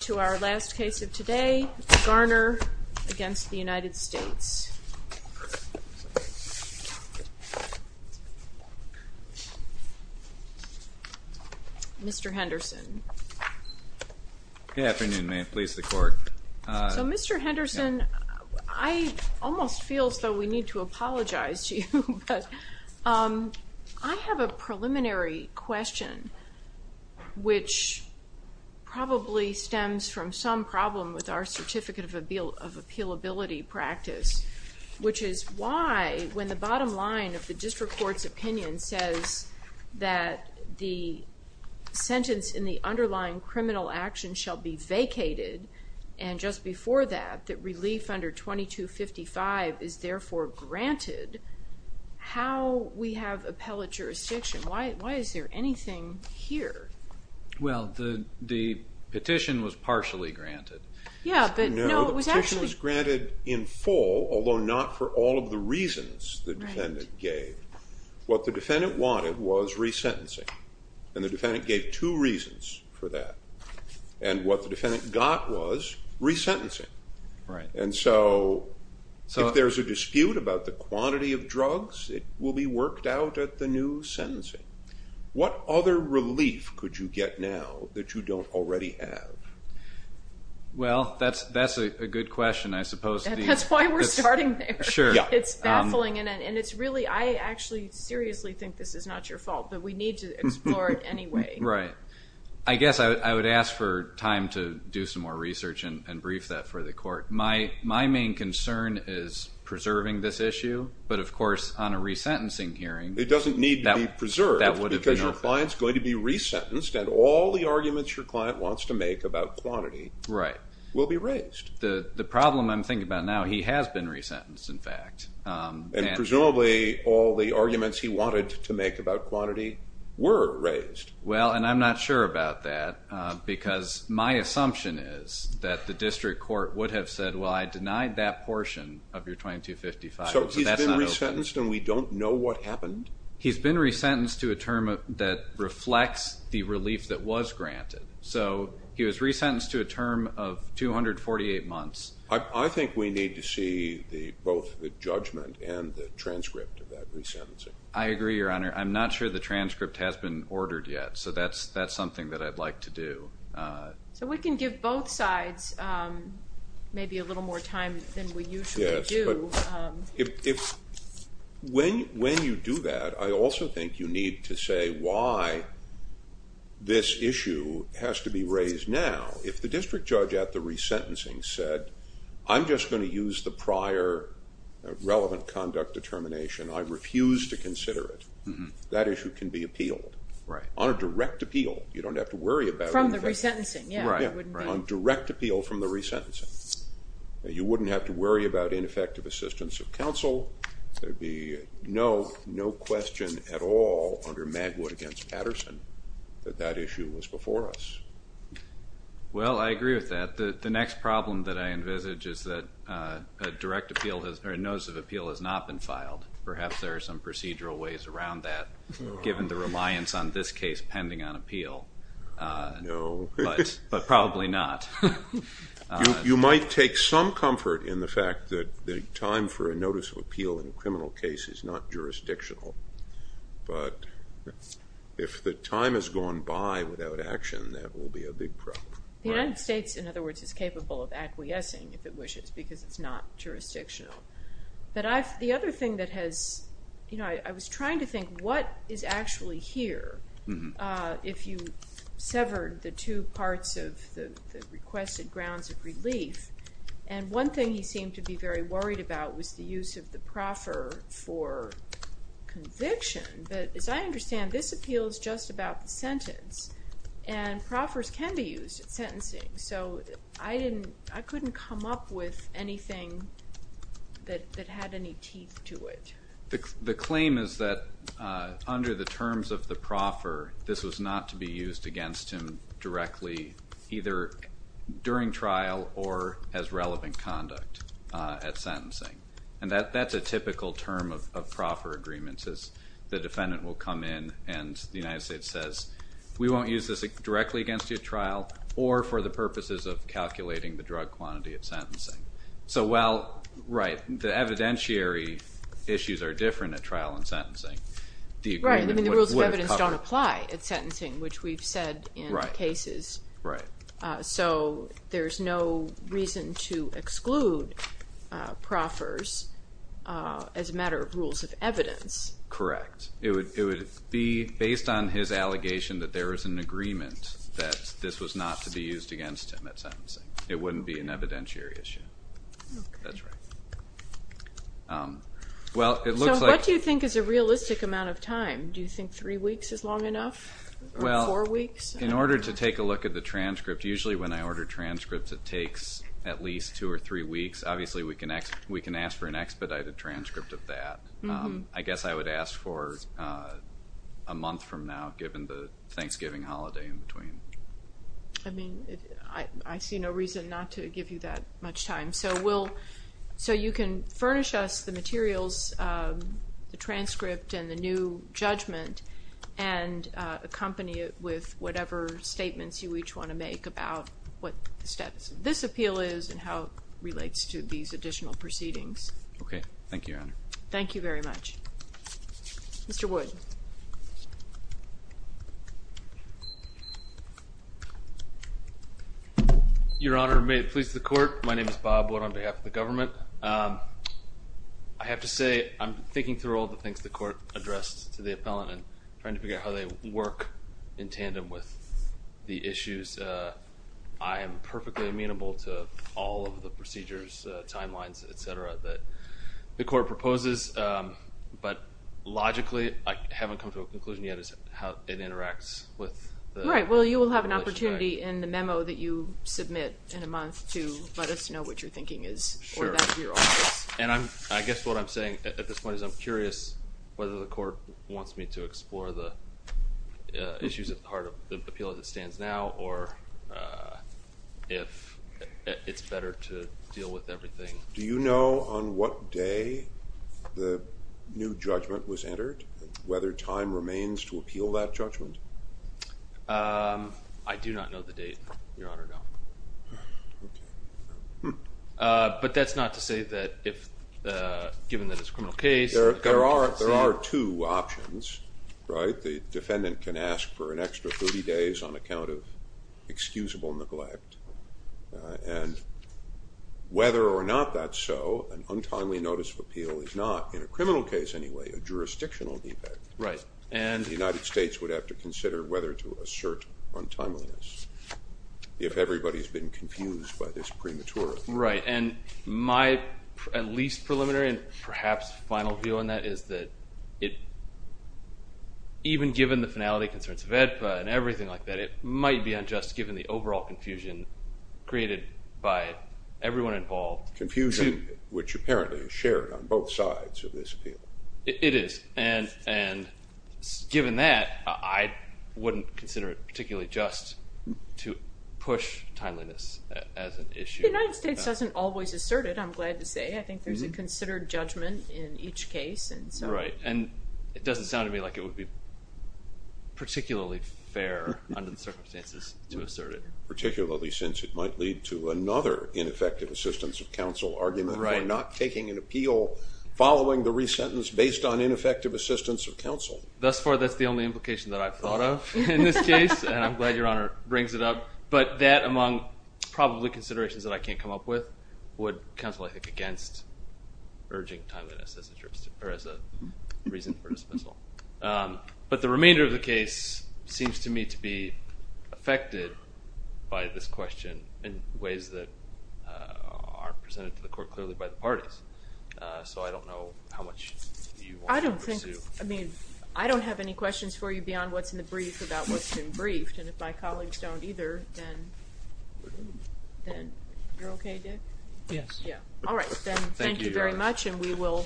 To our last case of today, Garner v. United States Mr. Henderson Good afternoon, may it please the court So Mr. Henderson, I almost feel as though we need to apologize to you, but I have a preliminary question which probably stems from some problem with our Certificate of Appealability practice which is why, when the bottom line of the district court's opinion says that the sentence in the underlying criminal action shall be vacated and just before that, that relief under 2255 is therefore granted, how we have appellate jurisdiction? Why is there anything here? Well, the petition was partially granted No, the petition was granted in full, although not for all of the reasons the defendant gave. What the defendant wanted was resentencing, and the defendant gave two reasons for that. And what the defendant got was resentencing. And so, if there's a dispute about the quantity of drugs, it will be worked out at the new sentencing. What other relief could you get now that you don't already have? Well, that's a good question, I suppose. That's why we're starting there. Sure. It's baffling, and it's really, I actually seriously think this is not your fault, but we need to explore it anyway. Right. I guess I would ask for time to do some more research and brief that for the court. My main concern is preserving this issue, but of course, on a resentencing hearing it doesn't need to be preserved, because your client's going to be resentenced, and all the arguments your client wants to make about quantity will be raised. The problem I'm thinking about now, he has been resentenced, in fact. And presumably, all the arguments he wanted to make about quantity were raised. Well, and I'm not sure about that, because my assumption is that the district court would have said, well, I denied that portion of your 2255, but that's not open. So he's been resentenced, and we don't know what happened? He's been resentenced to a term that reflects the relief that was granted. So he was resentenced to a term of 248 months. I think we need to see both the judgment and the transcript of that resentencing. I agree, Your Honor. I'm not sure the transcript has been ordered yet, so that's something that I'd like to do. So we can give both sides maybe a little more time than we usually do. Yes, but when you do that, I also think you need to say why this issue has to be raised now. If the district judge at the resentencing said, I'm just going to use the prior relevant conduct determination, I refuse to consider it, that issue can be appealed on a direct appeal. You don't have to worry about it. From the resentencing, yes. On direct appeal from the resentencing. You wouldn't have to worry about ineffective assistance of counsel. There would be no question at all under Magwood against Patterson that that issue was before us. Well, I agree with that. The next problem that I envisage is that a direct appeal or a notice of appeal has not been filed. Perhaps there are some procedural ways around that, given the reliance on this case pending on appeal. No. But probably not. You might take some comfort in the fact that the time for a notice of appeal in a criminal case is not jurisdictional. But if the time has gone by without action, that will be a big problem. The United States, in other words, is capable of acquiescing if it wishes because it's not jurisdictional. But the other thing that has, you know, I was trying to think what is actually here, if you severed the two parts of the requested grounds of relief. And one thing he seemed to be very worried about was the use of the proffer for conviction. But as I understand, this appeal is just about the sentence. So I couldn't come up with anything that had any teeth to it. The claim is that under the terms of the proffer, this was not to be used against him directly, either during trial or as relevant conduct at sentencing. And that's a typical term of proffer agreements is the defendant will come in and the United States says we won't use this directly against you at trial or for the purposes of calculating the drug quantity at sentencing. So while, right, the evidentiary issues are different at trial and sentencing. Right, I mean the rules of evidence don't apply at sentencing, which we've said in cases. Right. So there's no reason to exclude proffers as a matter of rules of evidence. Correct. It would be based on his allegation that there is an agreement that this was not to be used against him at sentencing. It wouldn't be an evidentiary issue. Okay. That's right. So what do you think is a realistic amount of time? Do you think three weeks is long enough or four weeks? Well, in order to take a look at the transcript, usually when I order transcripts, it takes at least two or three weeks. Obviously we can ask for an expedited transcript of that. I guess I would ask for a month from now, given the Thanksgiving holiday in between. I mean, I see no reason not to give you that much time. So you can furnish us the materials, the transcript and the new judgment, and accompany it with whatever statements you each want to make about what this appeal is and how it relates to these additional proceedings. Okay. Thank you, Your Honor. Thank you very much. Mr. Wood. Your Honor, may it please the Court, my name is Bob Wood on behalf of the government. I have to say I'm thinking through all the things the Court addressed to the appellant and trying to figure out how they work in tandem with the issues. I am perfectly amenable to all of the procedures, timelines, et cetera, that the Court proposes, but logically I haven't come to a conclusion yet as to how it interacts with the legislation. Right. Well, you will have an opportunity in the memo that you submit in a month to let us know what you're thinking is or that is your office. Sure. And I guess what I'm saying at this point is I'm curious whether the Court wants me to explore the issues at the heart of the appeal as it stands now or if it's better to deal with everything. Do you know on what day the new judgment was entered, whether time remains to appeal that judgment? I do not know the date, Your Honor, no. But that's not to say that if, given that it's a criminal case. There are two options, right? The defendant can ask for an extra 30 days on account of excusable neglect. And whether or not that's so, an untimely notice of appeal is not, in a criminal case anyway, a jurisdictional defect. Right. And the United States would have to consider whether to assert untimeliness if everybody's been confused by this premature appeal. Right. And my at least preliminary and perhaps final view on that is that even given the finality concerns VEDPA and everything like that, it might be unjust given the overall confusion created by everyone involved. Confusion, which apparently is shared on both sides of this appeal. It is. And given that, I wouldn't consider it particularly just to push timeliness as an issue. The United States doesn't always assert it, I'm glad to say. I think there's a considered judgment in each case. Right. And it doesn't sound to me like it would be particularly fair under the circumstances to assert it. Particularly since it might lead to another ineffective assistance of counsel argument by not taking an appeal following the re-sentence based on ineffective assistance of counsel. Thus far, that's the only implication that I've thought of in this case. And I'm glad Your Honor brings it up. But that among probably considerations that I can't come up with would counsel, I think, against urging timeliness as a reason for dismissal. But the remainder of the case seems to me to be affected by this question in ways that aren't presented to the court clearly by the parties. So I don't know how much you want to pursue. I don't have any questions for you beyond what's in the brief about what's been briefed. And if my colleagues don't either, then you're okay, Dick? Yes. All right. Thank you, Your Honor.